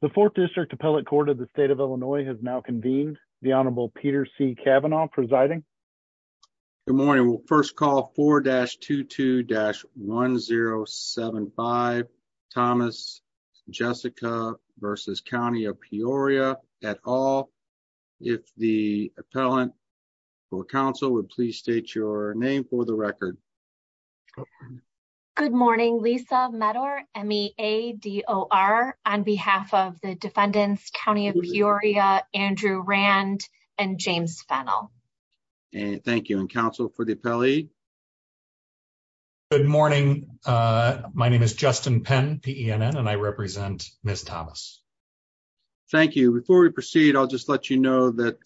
The 4th District Appellate Court of the State of Illinois has now convened. The Honorable Peter C. Kavanaugh presiding. Good morning. We'll first call 4-22-1075 Thomas Jessica v. County of Peoria et al. If the appellant for counsel would please state your name for the record. Good morning. Lisa Medor, M-E-A-D-O-R, on behalf of the defendants, County of Peoria, Andrew Rand, and James Fennell. Thank you. And counsel for the appellee. Good morning. My name is Justin Penn, P-E-N-N, and I represent Ms. Thomas. Thank you. Before we proceed, I'll just let you know that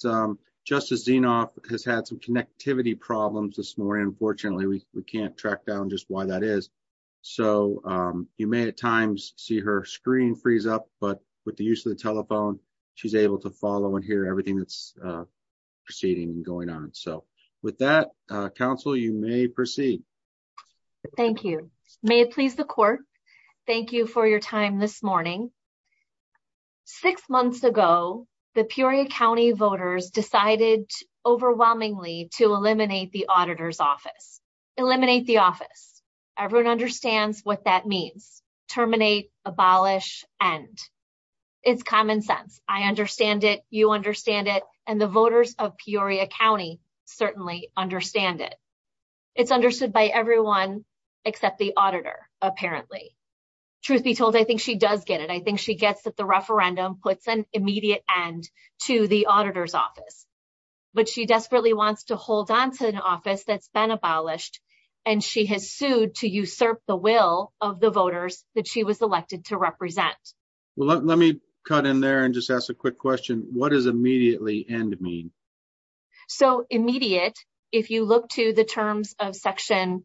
Justice Zinoff has had some connectivity problems this morning. Unfortunately, we can't track down just why that is. So, you may at times see her screen freeze up, but with the use of the telephone, she's able to follow and hear everything that's proceeding and going on. So, with that counsel, you may proceed. Thank you. May it please the court. Thank you for your time this morning. Six months ago, the Peoria County voters decided overwhelmingly to eliminate the auditor's office. Eliminate the office. Everyone understands what that means. Terminate, abolish, end. It's common sense. I understand it. You understand it. And the voters of Peoria County certainly understand it. It's understood by everyone except the auditor, apparently. Truth be told, I think she does get it. I think she gets that the referendum puts an immediate end to the auditor's office. But she desperately wants to hold on to an office that's been abolished, and she has sued to usurp the will of the voters that she was elected to represent. Well, let me cut in there and just ask a quick question. What does immediately end mean? So, immediate, if you look to the terms of Section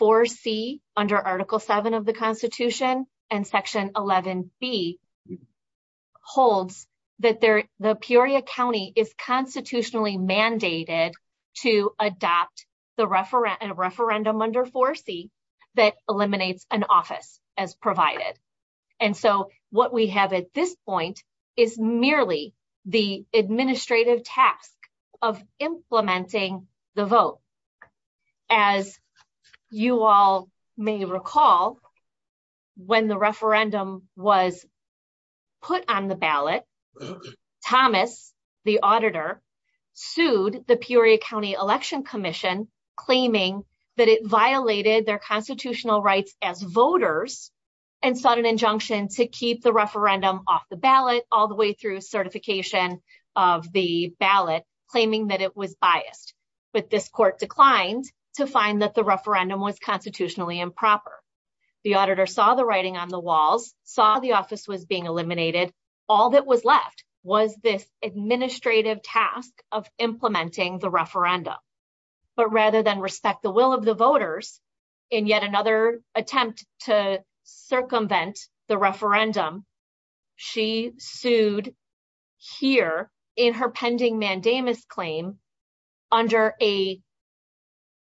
4C under Article 7 of the Constitution and Section 11B, holds that the Peoria County is constitutionally mandated to adopt a referendum under 4C that eliminates an office as provided. And so what we have at this point is merely the administrative task of implementing the vote. As you all may recall, when the referendum was put on the ballot, Thomas, the auditor, sued the Peoria County Election Commission, claiming that it violated their constitutional rights as voters and sought an injunction to keep the referendum off the ballot all the way through certification of the ballot, claiming that it was biased. But this court declined to find that the referendum was constitutionally improper. The auditor saw the writing on the walls, saw the office was being eliminated. All that was left was this administrative task of implementing the referendum. But rather than respect the will of the voters, in yet another attempt to circumvent the referendum, she sued here in her pending mandamus claim under a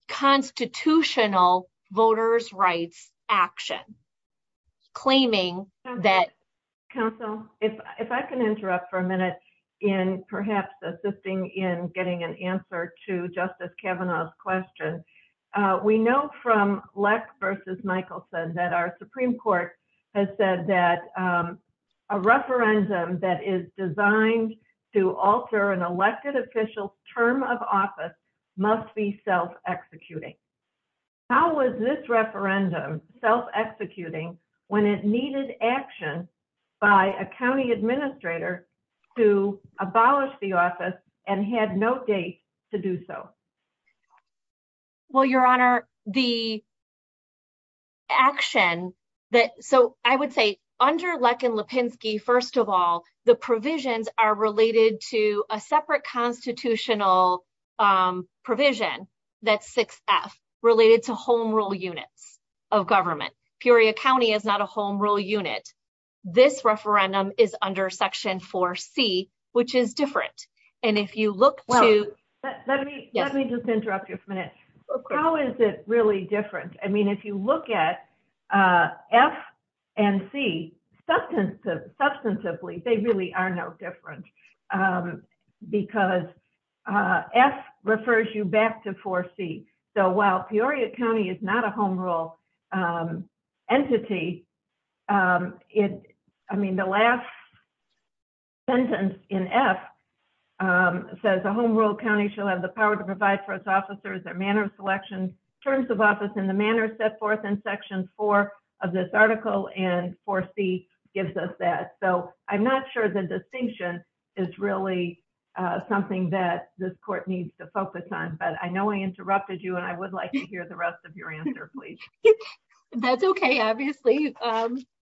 constitutional voters' rights action, claiming that... I'm going to ask Justice Kavanaugh's question. We know from Leck v. Michelson that our Supreme Court has said that a referendum that is designed to alter an elected official's term of office must be self-executing. How was this referendum self-executing when it needed action by a county administrator to abolish the office and had no date to do so? Well, Your Honor, the action that... So I would say under Leck and Lipinski, first of all, the provisions are related to a separate constitutional provision that's 6F, related to home rule units of government. Peoria County is not a home rule unit. This referendum is under Section 4C, which is different. And if you look to... Well, let me just interrupt you for a minute. How is it really different? I mean, if you look at F and C, substantively, they really are no different. Because F refers you back to 4C. So while Peoria County is not a home rule entity, it... I mean, the last sentence in F says, A home rule county shall have the power to provide for its officers their manner of selection, terms of office, and the manner set forth in Section 4 of this article, and 4C gives us that. So I'm not sure the distinction is really something that this court needs to focus on. But I know I interrupted you, and I would like to hear the rest of your answer, please. That's okay, obviously.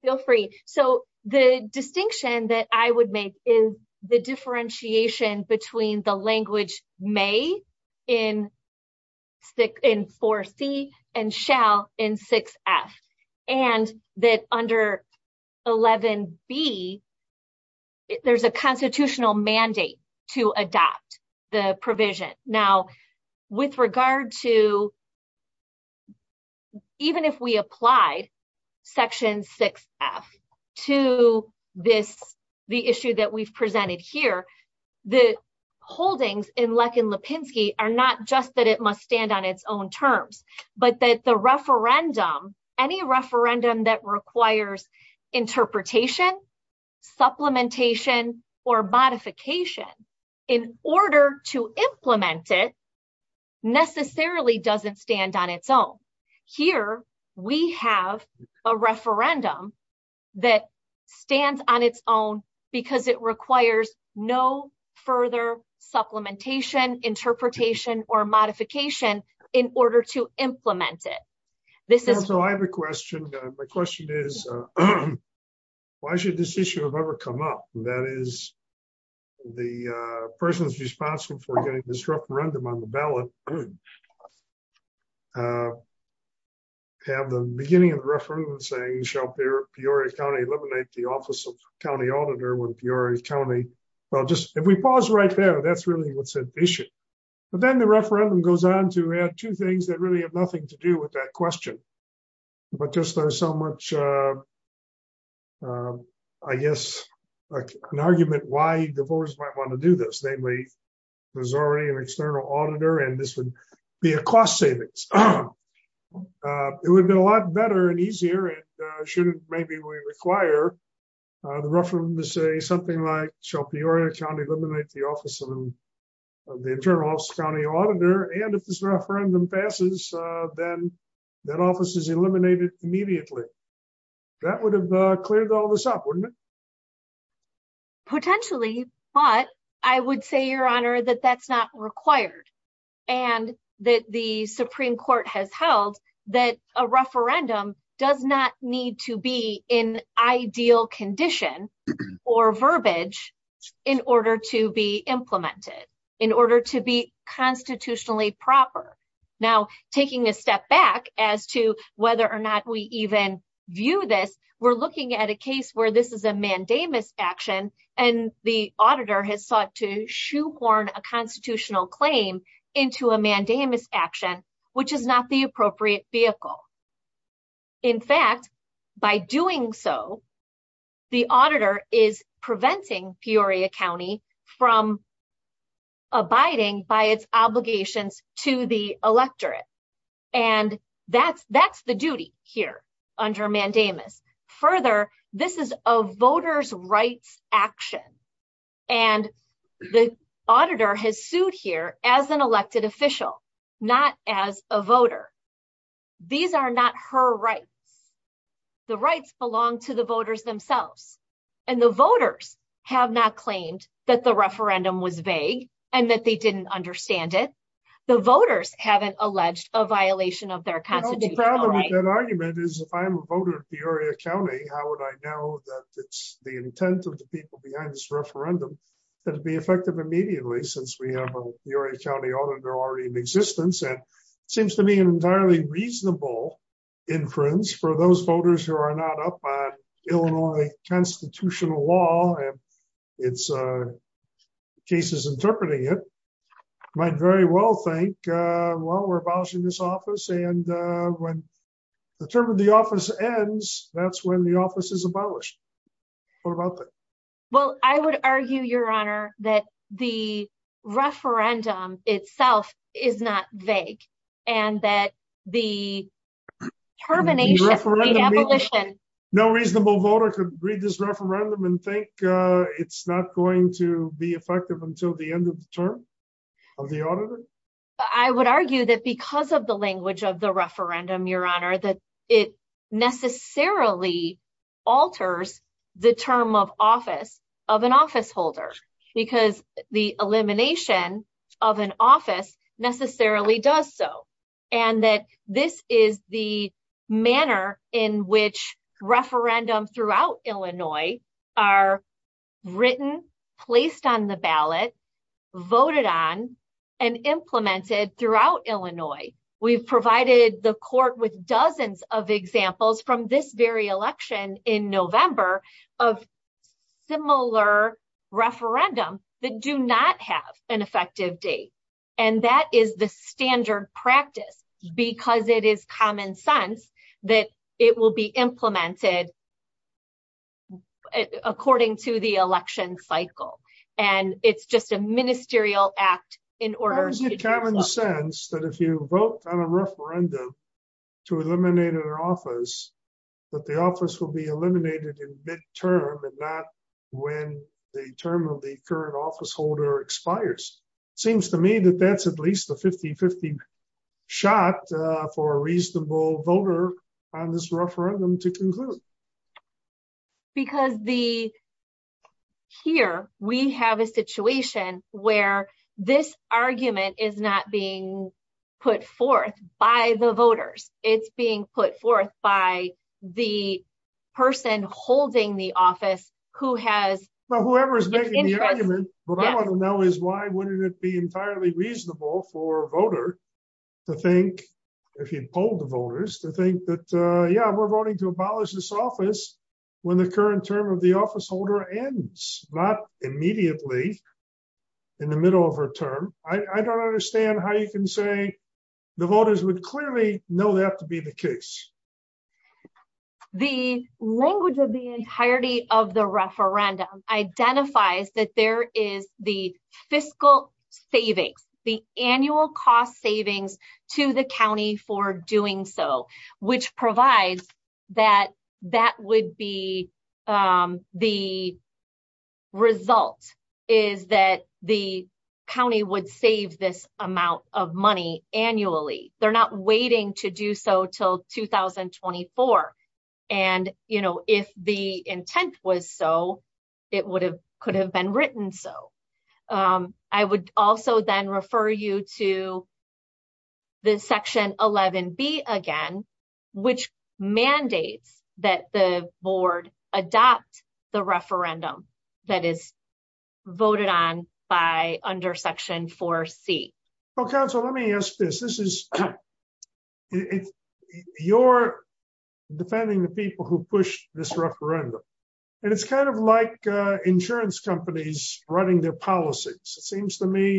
Feel free. So the distinction that I would make is the differentiation between the language may in 4C and shall in 6F, and that under 11B, there's a constitutional mandate to adopt the provision. Now, with regard to... Even if we apply Section 6F to this, the issue that we've presented here, the holdings in Leck and Lipinski are not just that it must stand on its own terms, but that the referendum, any referendum that requires interpretation, supplementation, or modification, in order to implement it, necessarily doesn't stand on its own. Here, we have a referendum that stands on its own because it requires no further supplementation, interpretation, or modification in order to implement it. So I have a question. My question is, why should this issue have ever come up? That is, the persons responsible for getting this referendum on the ballot have the beginning of the referendum saying, shall Peoria County eliminate the office of county auditor when Peoria County... If we pause right there, that's really what's at issue. But then the referendum goes on to add two things that really have nothing to do with that question. But just there's so much, I guess, an argument why the voters might want to do this. Namely, there's already an external auditor, and this would be a cost savings. It would have been a lot better and easier, and shouldn't maybe we require the referendum to say something like, shall Peoria County eliminate the office of the internal office of county auditor? And if this referendum passes, then that office is eliminated immediately. That would have cleared all this up, wouldn't it? Potentially, but I would say, Your Honor, that that's not required. And that the Supreme Court has held that a referendum does not need to be in ideal condition or verbiage in order to be implemented, in order to be constitutionally proper. Now, taking a step back as to whether or not we even view this, we're looking at a case where this is a mandamus action, and the auditor has sought to shoehorn a constitutional claim into a mandamus action, which is not the appropriate vehicle. In fact, by doing so, the auditor is preventing Peoria County from abiding by its obligations to the electorate. And that's the duty here under mandamus. Further, this is a voter's rights action, and the auditor has sued here as an elected official, not as a voter. These are not her rights. The rights belong to the voters themselves. And the voters have not claimed that the referendum was vague, and that they didn't understand it. The voters haven't alleged a violation of their constitutional rights. Well, I would argue, Your Honor, that the referendum itself is not vague, and that the termination, the abolition... No reasonable voter could read this referendum and think it's not going to be effective until the end of the term of the auditor? I would argue that because of the language of the referendum, Your Honor, that it necessarily alters the term of office of an officeholder, because the elimination of an office necessarily does so. And that this is the manner in which referendums throughout Illinois are written, placed on the ballot, voted on, and implemented throughout Illinois. We've provided the court with dozens of examples from this very election in November of similar referendum that do not have an effective date. And that is the standard practice, because it is common sense that it will be implemented according to the election cycle. And it's just a ministerial act in order... It's common sense that if you vote on a referendum to eliminate an office, that the office will be eliminated in midterm and not when the term of the current officeholder expires. Seems to me that that's at least a 50-50 shot for a reasonable voter on this referendum to conclude. Because here we have a situation where this argument is not being put forth by the voters. It's being put forth by the person holding the office who has... When the current term of the officeholder ends, not immediately in the middle of her term. I don't understand how you can say the voters would clearly know that to be the case. The language of the entirety of the referendum identifies that there is the fiscal savings, the annual cost savings to the county for doing so, which provides that that would be the result is that the county would save this amount of money annually. They're not waiting to do so till 2024. And if the intent was so, it could have been written so. I would also then refer you to the Section 11B again, which mandates that the board adopt the referendum that is voted on by under Section 4C. Well, counsel, let me ask this. You're defending the people who pushed this referendum, and it's kind of like insurance companies running their policies. It seems to me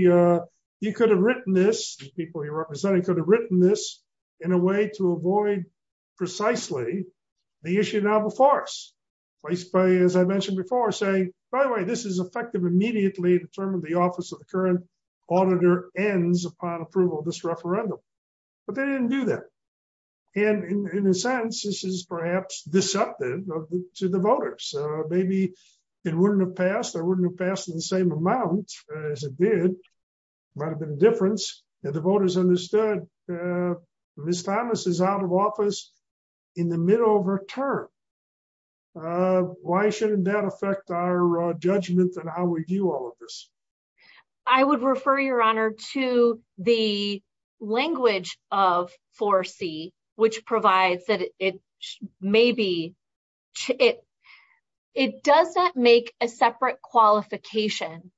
you could have written this, the people you're representing, could have written this in a way to avoid precisely the issue of novel forests, placed by, as I mentioned before, saying, by the way, this is effective immediately to determine the office of the current auditor ends upon approval of this referendum. But they didn't do that. And in a sense, this is perhaps deceptive to the voters. Maybe it wouldn't have passed or wouldn't have passed in the same amount as it did. Might have been a difference. And the voters understood. Ms. Thomas is out of office in the middle of her term. Why shouldn't that affect our judgment on how we view all of this? I would refer your honor to the language of 4C, which provides that it may be, it does not make a separate qualification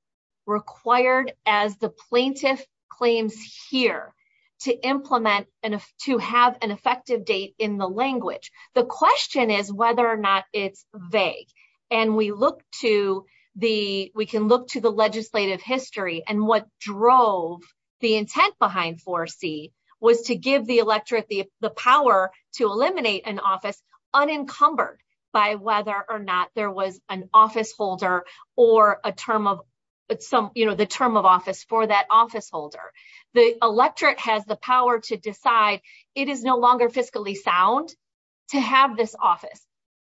required as the plaintiff claims here to implement and to have an effective date in the language. The question is whether or not it's vague. And we look to the, we can look to the legislative history and what drove the intent behind 4C was to give the electorate the power to eliminate an office unencumbered by whether or not there was an office holder or a term of some, you know, the term of office for that office holder. The electorate has the power to decide. It is no longer fiscally sound to have this office.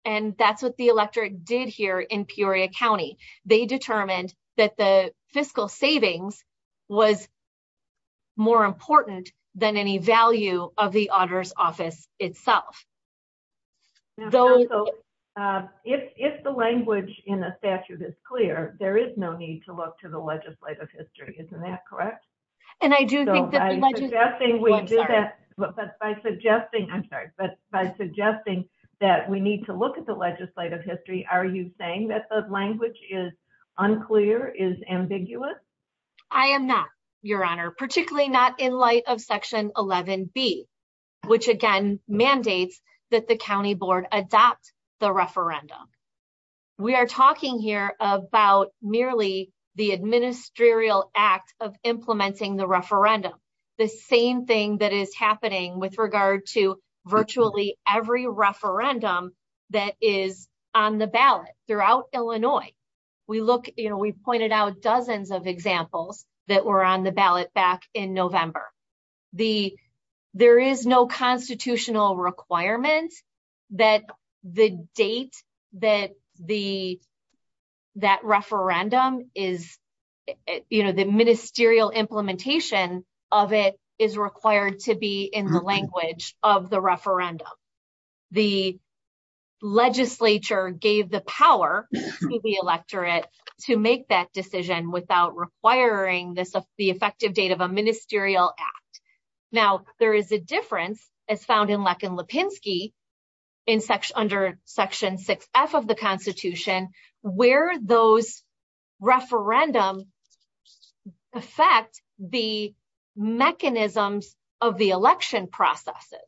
And that's what the electorate did here in Peoria County. They determined that the fiscal savings was more important than any value of the auditor's office itself. If the language in the statute is clear, there is no need to look to the legislative history. Isn't that correct? And I do think that by suggesting, I'm sorry, but by suggesting that we need to look at the legislative history, are you saying that the language is unclear, is ambiguous? I am not, Your Honor, particularly not in light of Section 11B, which again mandates that the County Board adopt the referendum. We are talking here about merely the administerial act of implementing the referendum. The same thing that is happening with regard to virtually every referendum that is on the ballot throughout Illinois. We look, you know, we pointed out dozens of examples that were on the ballot back in November. There is no constitutional requirement that the date that referendum is, you know, the ministerial implementation of it is required to be in the language of the referendum. The legislature gave the power to the electorate to make that decision without requiring the effective date of a ministerial act. Now, there is a difference as found in Leck and Lipinski under Section 6F of the Constitution where those referendum affect the mechanisms of the election processes.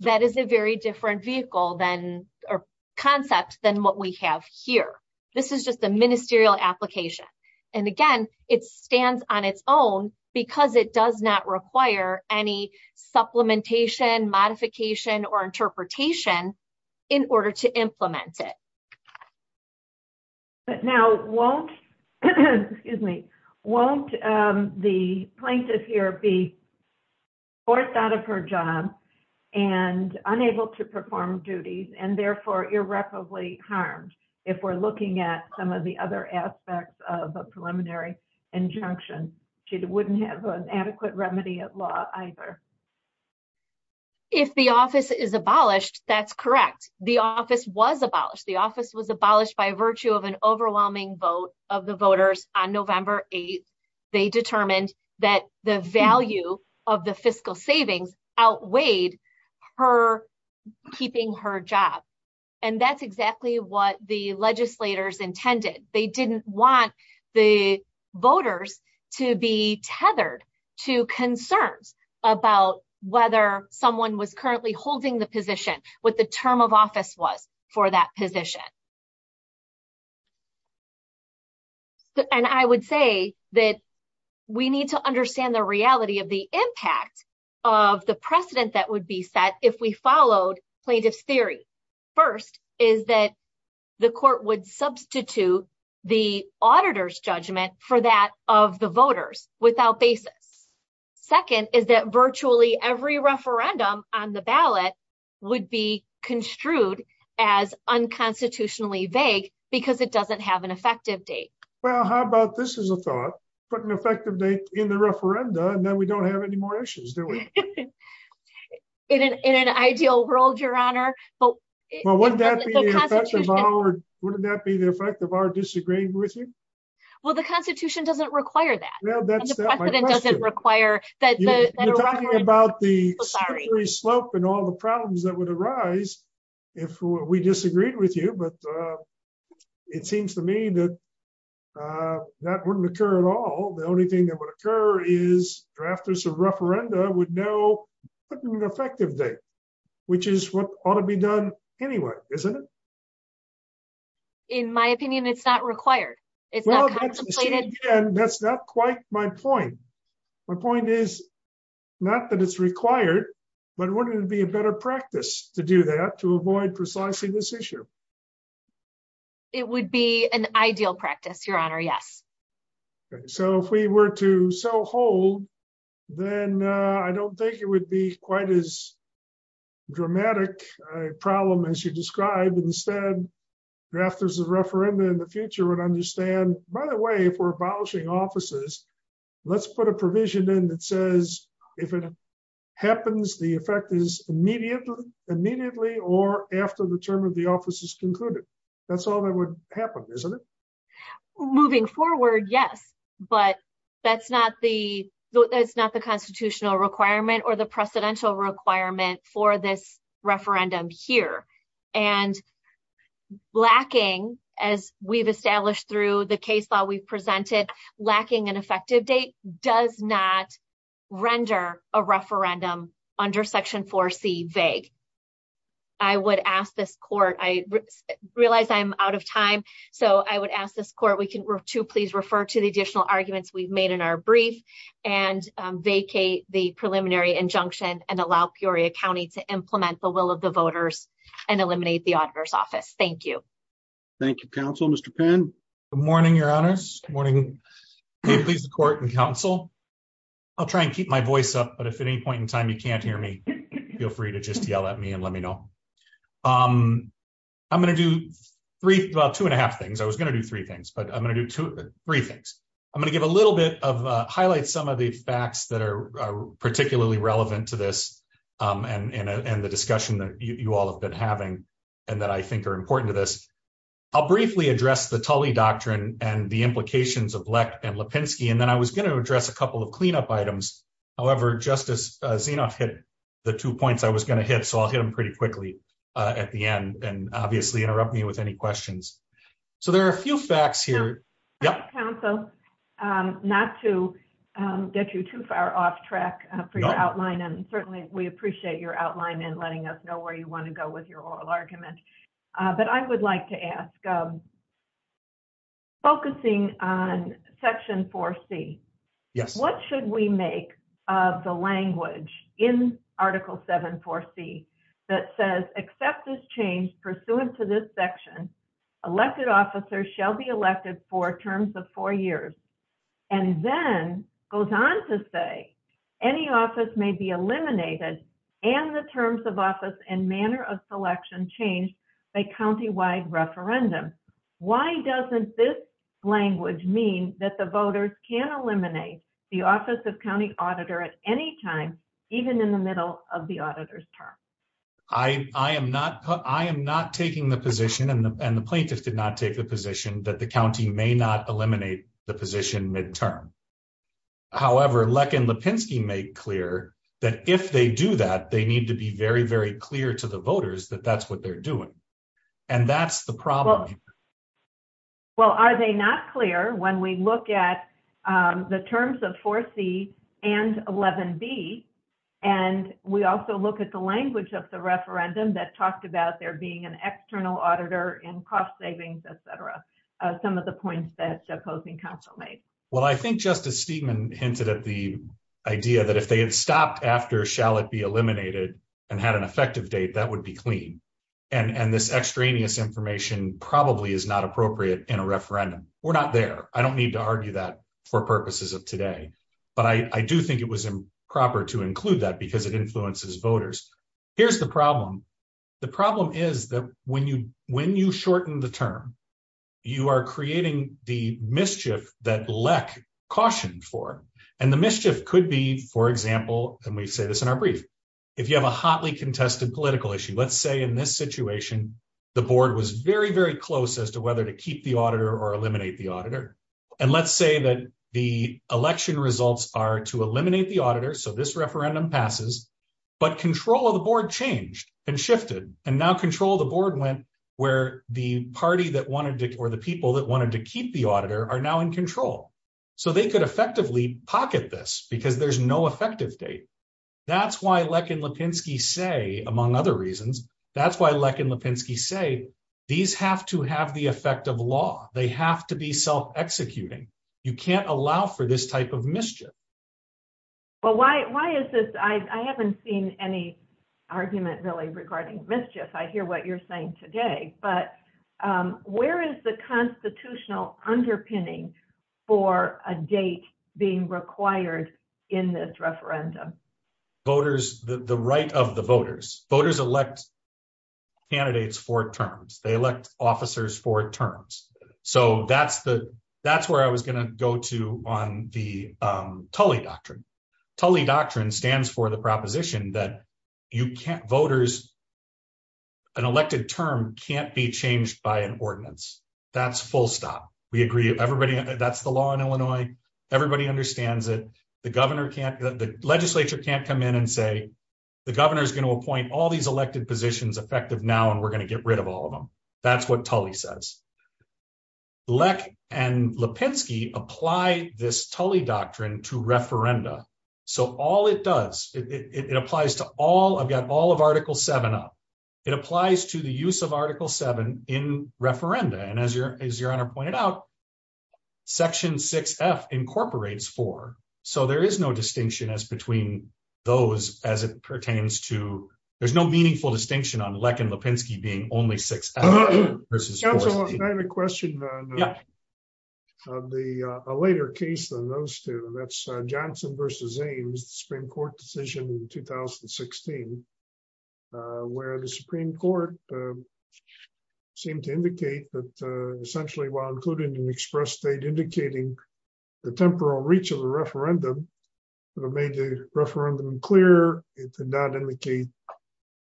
That is a very different vehicle or concept than what we have here. This is just a ministerial application. And again, it stands on its own because it does not require any supplementation, modification, or interpretation in order to implement it. But now, won't the plaintiff here be forced out of her job and unable to perform duties and therefore irreparably harmed if we're looking at some of the other aspects of a preliminary injunction? She wouldn't have an adequate remedy at law either. If the office is abolished, that's correct. The office was abolished. The office was abolished by virtue of an overwhelming vote of the voters on November 8th. They determined that the value of the fiscal savings outweighed her keeping her job. And that's exactly what the legislators intended. They didn't want the voters to be tethered to concerns about whether someone was currently holding the position, what the term of office was for that position. And I would say that we need to understand the reality of the impact of the precedent that would be set if we followed plaintiff's theory. First is that the court would substitute the auditor's judgment for that of the voters without basis. Second is that virtually every referendum on the ballot would be construed as unconstitutionally vague because it doesn't have an effective date. Well, how about this as a thought? Put an effective date in the referenda and then we don't have any more issues, do we? In an ideal world, Your Honor. Well, wouldn't that be the effect of our disagreeing with you? Well, the Constitution doesn't require that. You're talking about the slippery slope and all the problems that would arise if we disagreed with you, but it seems to me that that wouldn't occur at all. The only thing that would occur is drafters of referenda would know putting an effective date, which is what ought to be done anyway, isn't it? In my opinion, it's not required. That's not quite my point. My point is not that it's required, but wouldn't it be a better practice to do that to avoid precisely this issue? It would be an ideal practice, Your Honor. Yes. So if we were to sell whole, then I don't think it would be quite as dramatic a problem as you described. Instead, drafters of referenda in the future would understand, by the way, if we're abolishing offices, let's put a provision in that says if it happens, the effect is immediately or after the term of the office is concluded. That's all that would happen, isn't it? Moving forward, yes, but that's not the constitutional requirement or the precedential requirement for this referendum here. And lacking, as we've established through the case law we've presented, lacking an effective date does not render a referendum under Section 4C vague. I would ask this court, I realize I'm out of time, so I would ask this court, we can to please refer to the additional arguments we've made in our brief and vacate the preliminary injunction and allow Peoria County to implement the will of the voters and eliminate the auditor's office. Thank you. Thank you. Good morning, Your Honors. Good morning. May it please the court and counsel. I'll try and keep my voice up, but if at any point in time you can't hear me, feel free to just yell at me and let me know. I'm going to do about two and a half things. I was going to do three things, but I'm going to do three things. I'm going to give a little bit of, highlight some of the facts that are particularly relevant to this and the discussion that you all have been having and that I think are important to this. I'm going to briefly address the Tully Doctrine and the implications of Leck and Lipinski, and then I was going to address a couple of cleanup items. However, Justice Zinoff hit the two points I was going to hit, so I'll hit them pretty quickly at the end and obviously interrupt me with any questions. So there are a few facts here. Counsel, not to get you too far off track for your outline, and certainly we appreciate your outline and letting us know where you want to go with your oral argument. But I would like to ask, focusing on Section 4C, what should we make of the language in Article 7, 4C that says, accept this change pursuant to this section, elected officers shall be elected for terms of four years, and then goes on to say, any office may be eliminated and the terms of office and manner of selection changed by countywide referendum. Why doesn't this language mean that the voters can eliminate the office of county auditor at any time, even in the middle of the auditor's term? I am not taking the position, and the plaintiffs did not take the position, that the county may not eliminate the position midterm. However, Leck and Lipinski make clear that if they do that, they need to be very, very clear to the voters that that's what they're doing. And that's the problem. Well, are they not clear when we look at the terms of 4C and 11B, and we also look at the language of the referendum that talked about there being an external auditor in cost savings, etc. Some of the points that the opposing counsel made. Well, I think Justice Steedman hinted at the idea that if they had stopped after shall it be eliminated and had an effective date, that would be clean. And this extraneous information probably is not appropriate in a referendum. We're not there. I don't need to argue that for purposes of today. But I do think it was improper to include that because it influences voters. Here's the problem. The problem is that when you shorten the term, you are creating the mischief that Leck cautioned for. And the mischief could be, for example, and we say this in our brief, if you have a hotly contested political issue. Let's say in this situation, the board was very, very close as to whether to keep the auditor or eliminate the auditor. And let's say that the election results are to eliminate the auditor. So this referendum passes. But control of the board changed and shifted and now control the board went where the party that wanted or the people that wanted to keep the auditor are now in control. So they could effectively pocket this because there's no effective date. That's why Leck and Lipinski say, among other reasons, that's why Leck and Lipinski say these have to have the effect of law. They have to be self-executing. You can't allow for this type of mischief. Well, why is this? I haven't seen any argument really regarding mischief. I hear what you're saying today. But where is the constitutional underpinning for a date being required in this referendum? The right of the voters. Voters elect candidates for terms. They elect officers for terms. So that's where I was going to go to on the Tully Doctrine. Tully Doctrine stands for the proposition that an elected term can't be changed by an ordinance. That's full stop. That's the law in Illinois. Everybody understands it. The legislature can't come in and say the governor is going to appoint all these elected positions effective now and we're going to get rid of all of them. That's what Tully says. Leck and Lipinski apply this Tully Doctrine to referenda. I've got all of Article 7 up. It applies to the use of Article 7 in referenda. And as your Honor pointed out, Section 6F incorporates 4. So there is no distinction as between those as it pertains to, there's no meaningful distinction on Leck and Lipinski being only 6F versus 4C. I have a question on a later case than those two. That's Johnson versus Ames, the Supreme Court decision in 2016, where the Supreme Court seemed to indicate that essentially while including an express date indicating the temporal reach of the referendum, it made the referendum clear, it did not indicate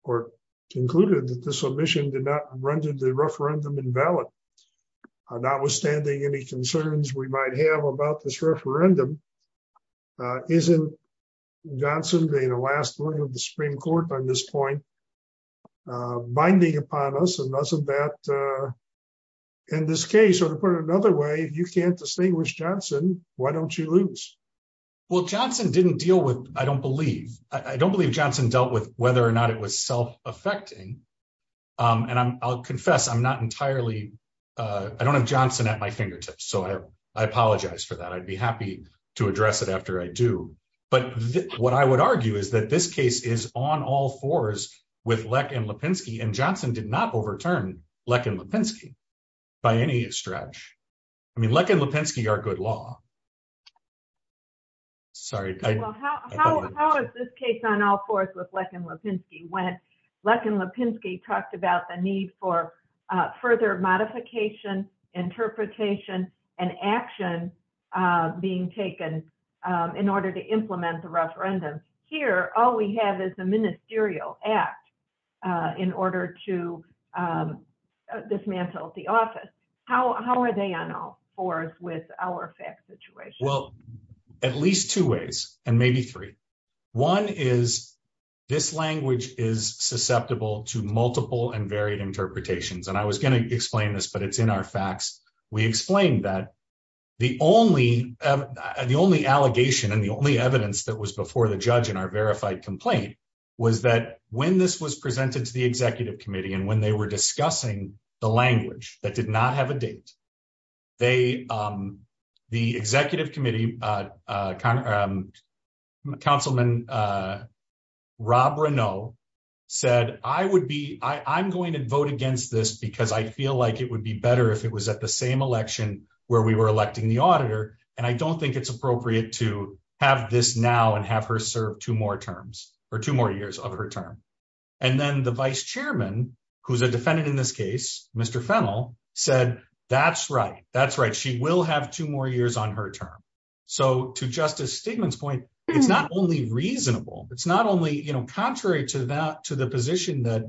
or concluded that the submission did not render the referendum invalid. Notwithstanding any concerns we might have about this referendum, isn't Johnson being the last one of the Supreme Court on this point, binding upon us and doesn't that, in this case, or to put it another way, you can't distinguish Johnson, why don't you lose? Well, Johnson didn't deal with, I don't believe, I don't believe Johnson dealt with whether or not it was self-affecting. And I'll confess, I'm not entirely, I don't have Johnson at my fingertips. So I apologize for that. I'd be happy to address it after I do. But what I would argue is that this case is on all fours with Leck and Lipinski and Johnson did not overturn Leck and Lipinski by any stretch. I mean, Leck and Lipinski are good law. Sorry. How is this case on all fours with Leck and Lipinski when Leck and Lipinski talked about the need for further modification, interpretation, and action being taken in order to implement the referendum. Here, all we have is a ministerial act in order to dismantle the office. How are they on all fours with our fact situation? Well, at least two ways and maybe three. One is this language is susceptible to multiple and varied interpretations. And I was going to explain this, but it's in our facts. We explained that the only, the only allegation and the only evidence that was before the judge in our verified complaint was that when this was presented to the executive committee and when they were discussing the language that did not have a date, they, the executive committee councilman Rob Renault said, I would be, I'm going to vote against this because I feel like it would be better if it was at the same election where we were electing the auditor. And I don't think it's appropriate to have this now and have her serve two more terms or two more years of her term. And then the vice chairman, who's a defendant in this case, Mr. Fennell said, that's right. That's right. She will have two more years on her term. So to Justice Stigman's point, it's not only reasonable, it's not only, you know, contrary to that, to the position that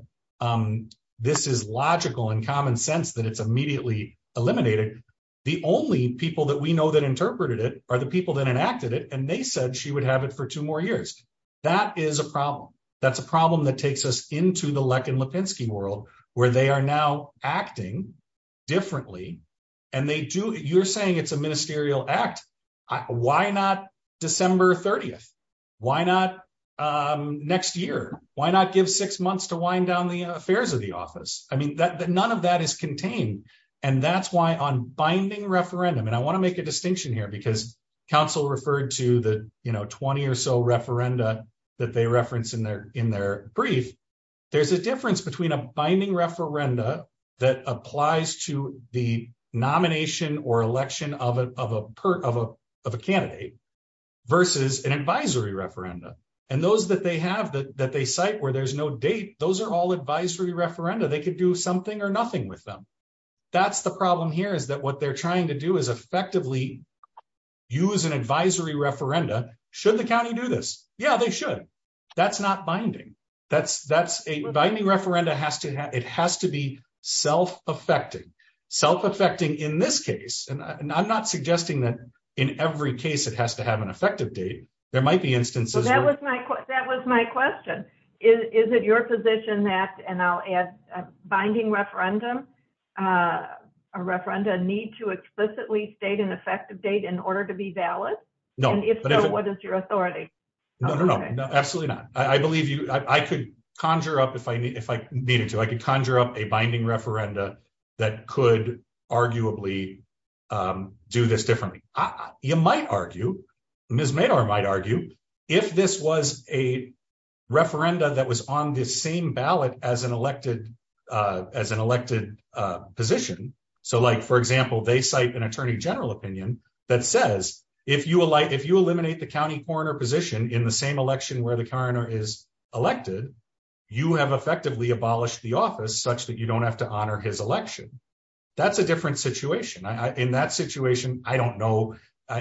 this is logical and common sense that it's immediately eliminated. The only people that we know that interpreted it are the people that enacted it. And they said she would have it for two more years. That is a problem. That's a problem that takes us into the Leck and Lipinski world where they are now acting differently. And they do, you're saying it's a ministerial act. Why not December 30th? Why not next year? Why not give six months to wind down the affairs of the office? I mean, none of that is contained. And that's why on binding referendum, and I want to make a distinction here because counsel referred to the, you know, 20 or so referenda that they reference in their brief. There's a difference between a binding referenda that applies to the nomination or election of a candidate versus an advisory referenda. And those that they have that they cite where there's no date, those are all advisory referenda. They could do something or nothing with them. That's the problem here is that what they're trying to do is effectively use an advisory referenda. Should the county do this? Yeah, they should. That's not binding. That's a binding referenda has to have, it has to be self-affecting. Self-affecting in this case, and I'm not suggesting that in every case it has to have an effective date. There might be instances. That was my question. Is it your position that, and I'll add a binding referendum, a referenda need to explicitly state an effective date in order to be valid? And if so, what is your authority? No, absolutely not. I believe you, I could conjure up if I needed to, I could conjure up a binding referenda that could arguably do this differently. You might argue, Ms. Maynard might argue, if this was a referenda that was on this same ballot as an elected, as an elected position. So like, for example, they cite an attorney general opinion that says, if you eliminate the county coroner position in the same election where the coroner is elected, you have effectively abolished the office such that you don't have to honor his election. That's a different situation. In that situation, I don't know,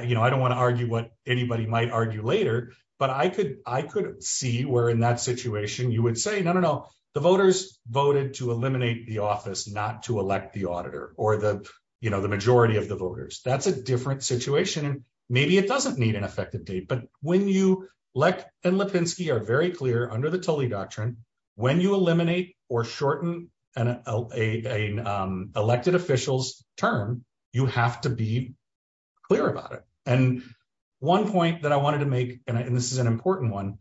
you know, I don't want to argue what anybody might argue later, but I could, I could see where in that situation you would say, no, no, no, the voters voted to eliminate the office not to elect the auditor or the, you know, the majority of the voters. That's a different situation. And maybe it doesn't need an effective date. But when you, Lech and Lipinski are very clear under the Tully Doctrine, when you eliminate or shorten an elected officials term, you have to be clear about it. And one point that I wanted to make, and this is an important one,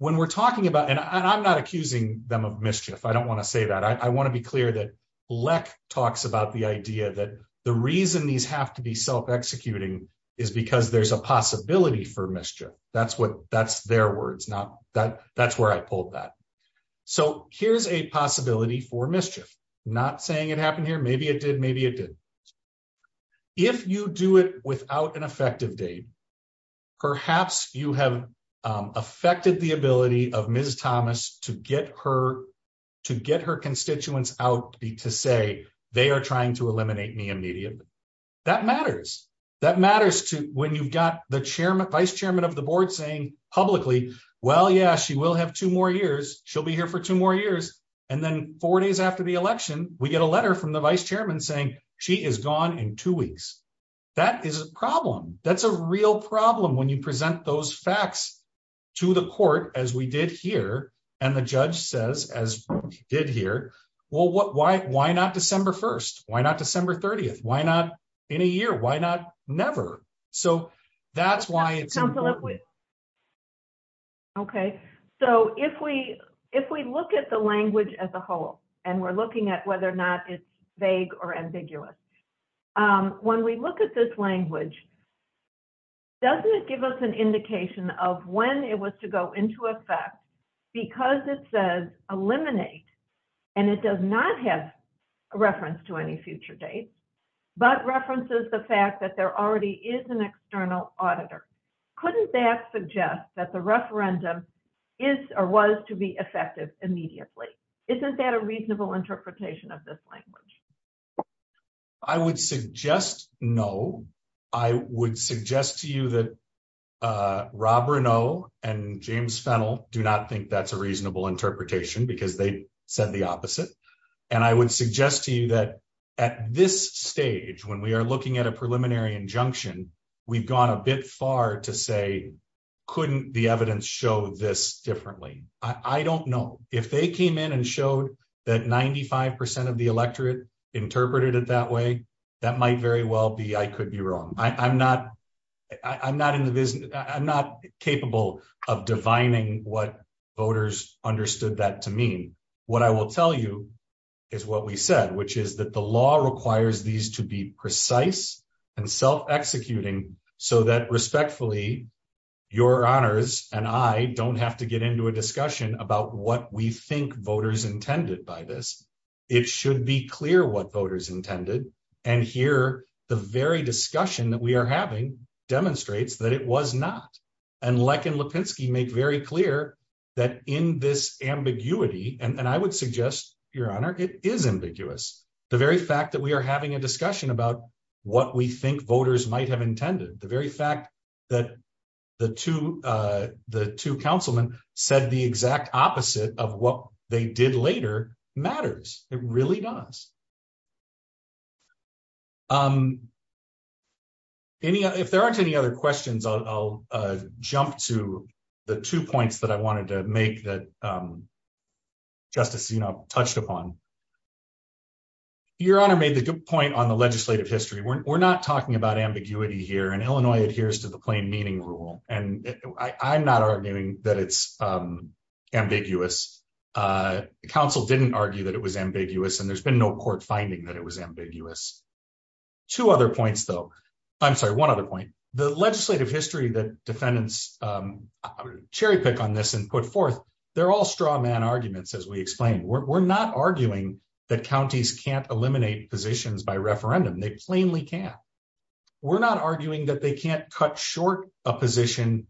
when we're talking about, and I'm not accusing them of mischief, I don't want to say that. I want to be clear that Lech talks about the idea that the reason these have to be self-executing is because there's a possibility for mischief. That's what, that's their words, not that, that's where I pulled that. So here's a possibility for mischief. Not saying it happened here, maybe it did, maybe it didn't. If you do it without an effective date, perhaps you have affected the ability of Ms. Thomas to get her, to get her constituents out to say they are trying to eliminate me immediately. That matters. That matters to when you've got the chairman, vice chairman of the board saying publicly, well, yeah, she will have two more years. She'll be here for two more years. And then four days after the election, we get a letter from the vice chairman saying she is gone in two weeks. That is a problem. That's a real problem when you present those facts to the court, as we did here, and the judge says, as we did here, well, why not December 1st? Why not December 30th? Why not in a year? Why not never? So that's why it's important. Okay, so if we, if we look at the language as a whole, and we're looking at whether or not it's vague or ambiguous, when we look at this language, doesn't it give us an indication of when it was to go into effect? Because it says eliminate, and it does not have a reference to any future date, but references the fact that there already is an external auditor. Couldn't that suggest that the referendum is or was to be effective immediately? Isn't that a reasonable interpretation of this language? I would suggest no. I would suggest to you that Rob Renault and James Fennell do not think that's a reasonable interpretation because they said the opposite. And I would suggest to you that at this stage, when we are looking at a preliminary injunction, we've gone a bit far to say, couldn't the evidence show this differently? I don't know. If they came in and showed that 95% of the electorate interpreted it that way, that might very well be, I could be wrong. I'm not capable of divining what voters understood that to mean. What I will tell you is what we said, which is that the law requires these to be precise and self-executing so that respectfully, your honors and I don't have to get into a discussion about what we think voters intended by this. It should be clear what voters intended. And here, the very discussion that we are having demonstrates that it was not. And Leck and Lipinski make very clear that in this ambiguity, and I would suggest, your honor, it is ambiguous. The very fact that we are having a discussion about what we think voters might have intended, the very fact that the two councilmen said the exact opposite of what they did later matters. It really does. If there aren't any other questions, I'll jump to the two points that I wanted to make that Justice Sena touched upon. Your honor made the good point on the legislative history. We're not talking about ambiguity here, and Illinois adheres to the plain meaning rule, and I'm not arguing that it's ambiguous. Council didn't argue that it was ambiguous, and there's been no court finding that it was ambiguous. Two other points, though. I'm sorry, one other point. The legislative history that defendants cherry pick on this and put forth, they're all straw man arguments, as we explained. We're not arguing that counties can't eliminate positions by referendum. They plainly can't. We're not arguing that they can't cut short a position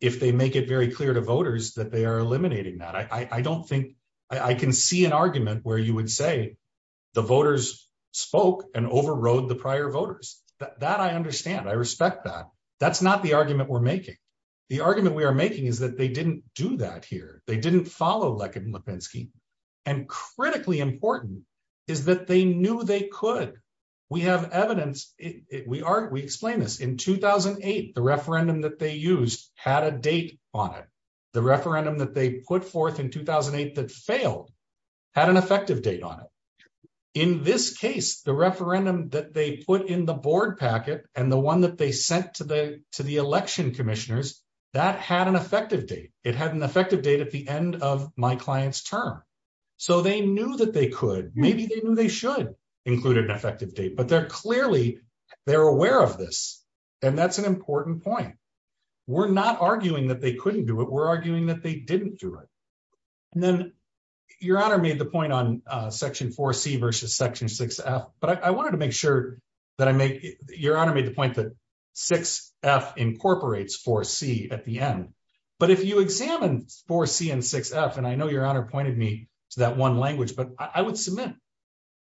if they make it very clear to voters that they are eliminating that. I don't think I can see an argument where you would say the voters spoke and overrode the prior voters. That I understand. I respect that. That's not the argument we're making. The argument we are making is that they didn't do that here. They didn't follow Leck and Lipinski. And critically important is that they knew they could. We have evidence. We explain this. In 2008, the referendum that they used had a date on it. The referendum that they put forth in 2008 that failed had an effective date on it. In this case, the referendum that they put in the board packet and the one that they sent to the election commissioners, that had an effective date. It had an effective date at the end of my client's term. So they knew that they could, maybe they knew they should include an effective date, but they're clearly, they're aware of this. And that's an important point. We're not arguing that they couldn't do it. We're arguing that they didn't do it. And then Your Honor made the point on section 4C versus section 6F, but I wanted to make sure that I make, Your Honor made the point that 6F incorporates 4C at the end. But if you examine 4C and 6F, and I know Your Honor pointed me to that one language, but I would submit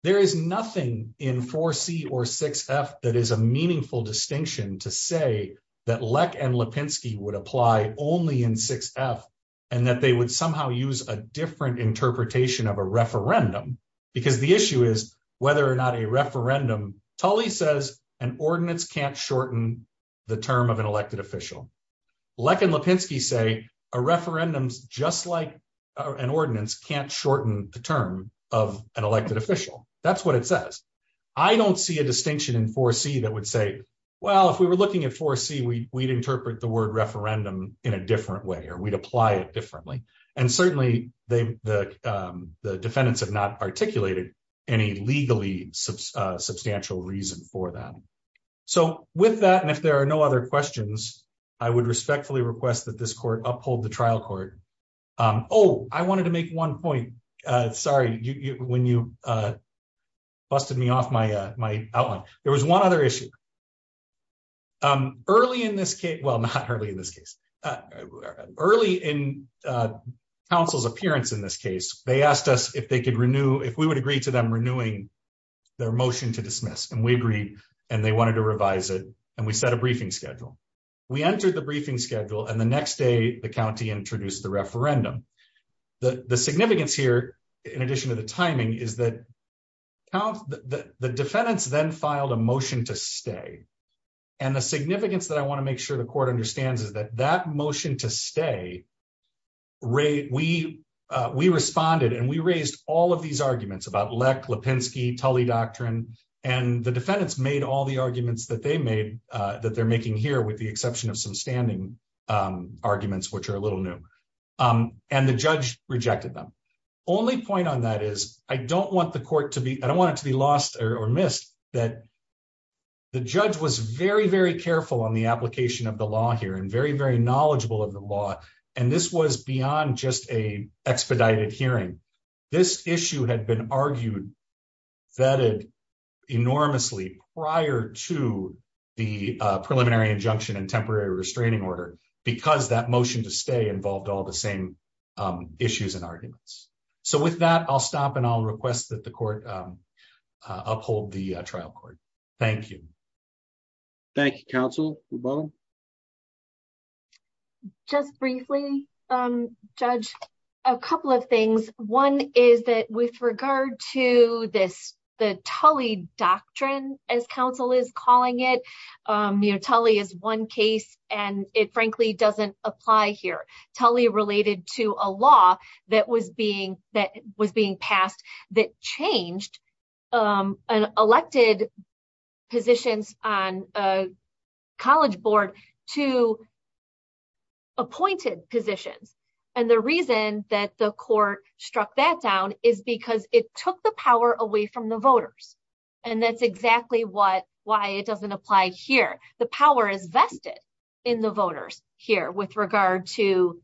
there is nothing in 4C or 6F that is a meaningful distinction to say that Leck and Lipinski would apply only in 6F and that they would somehow use a different interpretation of a referendum. Because the issue is whether or not a referendum, Tully says an ordinance can't shorten the term of an elected official. Leck and Lipinski say a referendum is just like an ordinance can't shorten the term of an elected official. That's what it says. I don't see a distinction in 4C that would say, well, if we were looking at 4C, we'd interpret the word referendum in a different way or we'd apply it differently. And certainly, the defendants have not articulated any legally substantial reason for that. So with that, and if there are no other questions, I would respectfully request that this court uphold the trial court. Oh, I wanted to make one point. Sorry, when you busted me off my outline. There was one other issue. Early in this case, well, not early in this case. Early in counsel's appearance in this case, they asked us if they could renew, if we would agree to them renewing their motion to dismiss and we agreed and they wanted to revise it and we set a briefing schedule. We entered the briefing schedule and the next day, the county introduced the referendum. The significance here, in addition to the timing, is that the defendants then filed a motion to stay. And the significance that I want to make sure the court understands is that that motion to stay, we responded and we raised all of these arguments about Leck, Lipinski, Tully Doctrine, and the defendants made all the arguments that they're making here with the exception of some standing arguments, which are a little new. And the judge rejected them. Only point on that is, I don't want the court to be, I don't want it to be lost or missed that the judge was very, very careful on the application of the law here and very, very knowledgeable of the law. And this was beyond just a expedited hearing. This issue had been argued, vetted enormously prior to the preliminary injunction and temporary restraining order because that motion to stay involved all the same issues and arguments. So with that, I'll stop and I'll request that the court uphold the trial court. Thank you. Thank you, counsel. Just briefly, Judge, a couple of things. One is that with regard to this, the Tully Doctrine, as counsel is calling it, you know, Tully is one case, and it frankly doesn't apply here. Tully related to a law that was being that was being passed that changed an elected positions on a college board to appointed positions. And the reason that the court struck that down is because it took the power away from the voters. And that's exactly what why it doesn't apply here. The power is vested in the voters here with regard to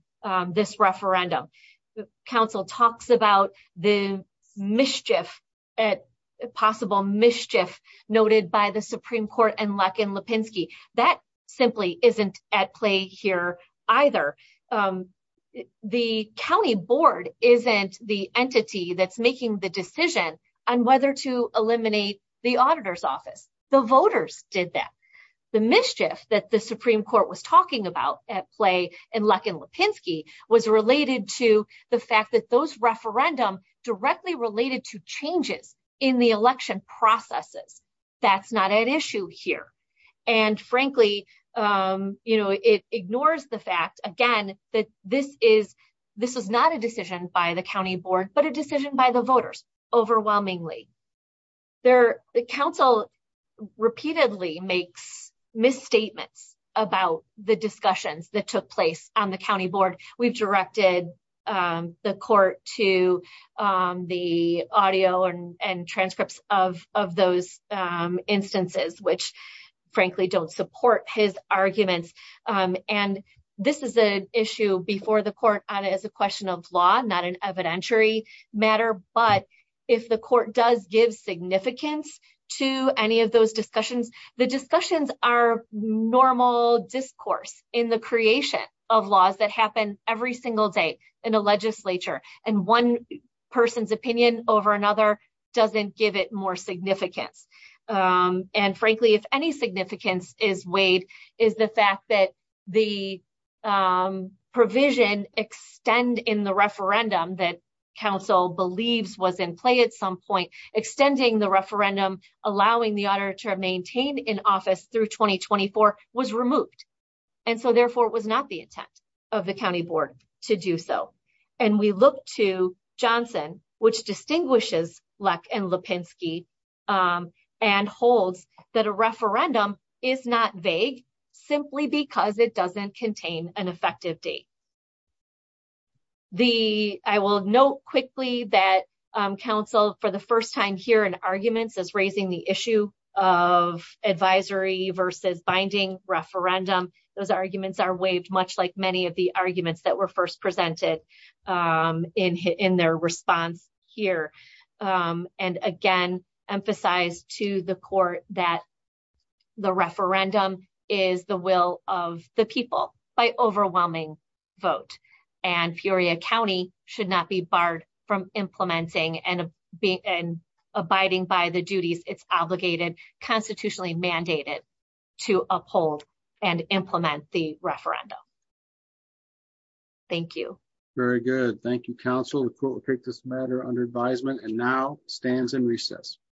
this referendum. Counsel talks about the mischief at possible mischief noted by the Supreme Court and Luckin Lipinski. That simply isn't at play here either. The county board isn't the entity that's making the decision on whether to eliminate the auditor's office. The voters did that. The mischief that the Supreme Court was talking about at play and Luckin Lipinski was related to the fact that those referendum directly related to changes in the election processes. That's not an issue here. And frankly, you know, it ignores the fact, again, that this is this is not a decision by the county board, but a decision by the voters, overwhelmingly. The council repeatedly makes misstatements about the discussions that took place on the county board. We've directed the court to the audio and transcripts of those instances, which frankly don't support his arguments. And this is an issue before the court on as a question of law, not an evidentiary matter. But if the court does give significance to any of those discussions, the discussions are normal discourse in the creation of laws that happen every single day in a legislature and one person's opinion over another doesn't give it more significance. And frankly, if any significance is weighed is the fact that the provision extend in the referendum that council believes was in play at some point, extending the referendum, allowing the auditor to maintain in office through 2024 was removed. And so therefore it was not the intent of the county board to do so. And we look to Johnson, which distinguishes luck and Lipinski and holds that a referendum is not vague, simply because it doesn't contain an effective date. I will note quickly that council for the first time here in arguments is raising the issue of advisory versus binding referendum. Those arguments are waived, much like many of the arguments that were first presented in their response here. And again, emphasize to the court that the referendum is the will of the people by overwhelming vote and Peoria County should not be barred from implementing and being and abiding by the duties, it's obligated constitutionally mandated to uphold and implement the referendum. Thank you. Very good. Thank you. Council will take this matter under advisement and now stands in recess.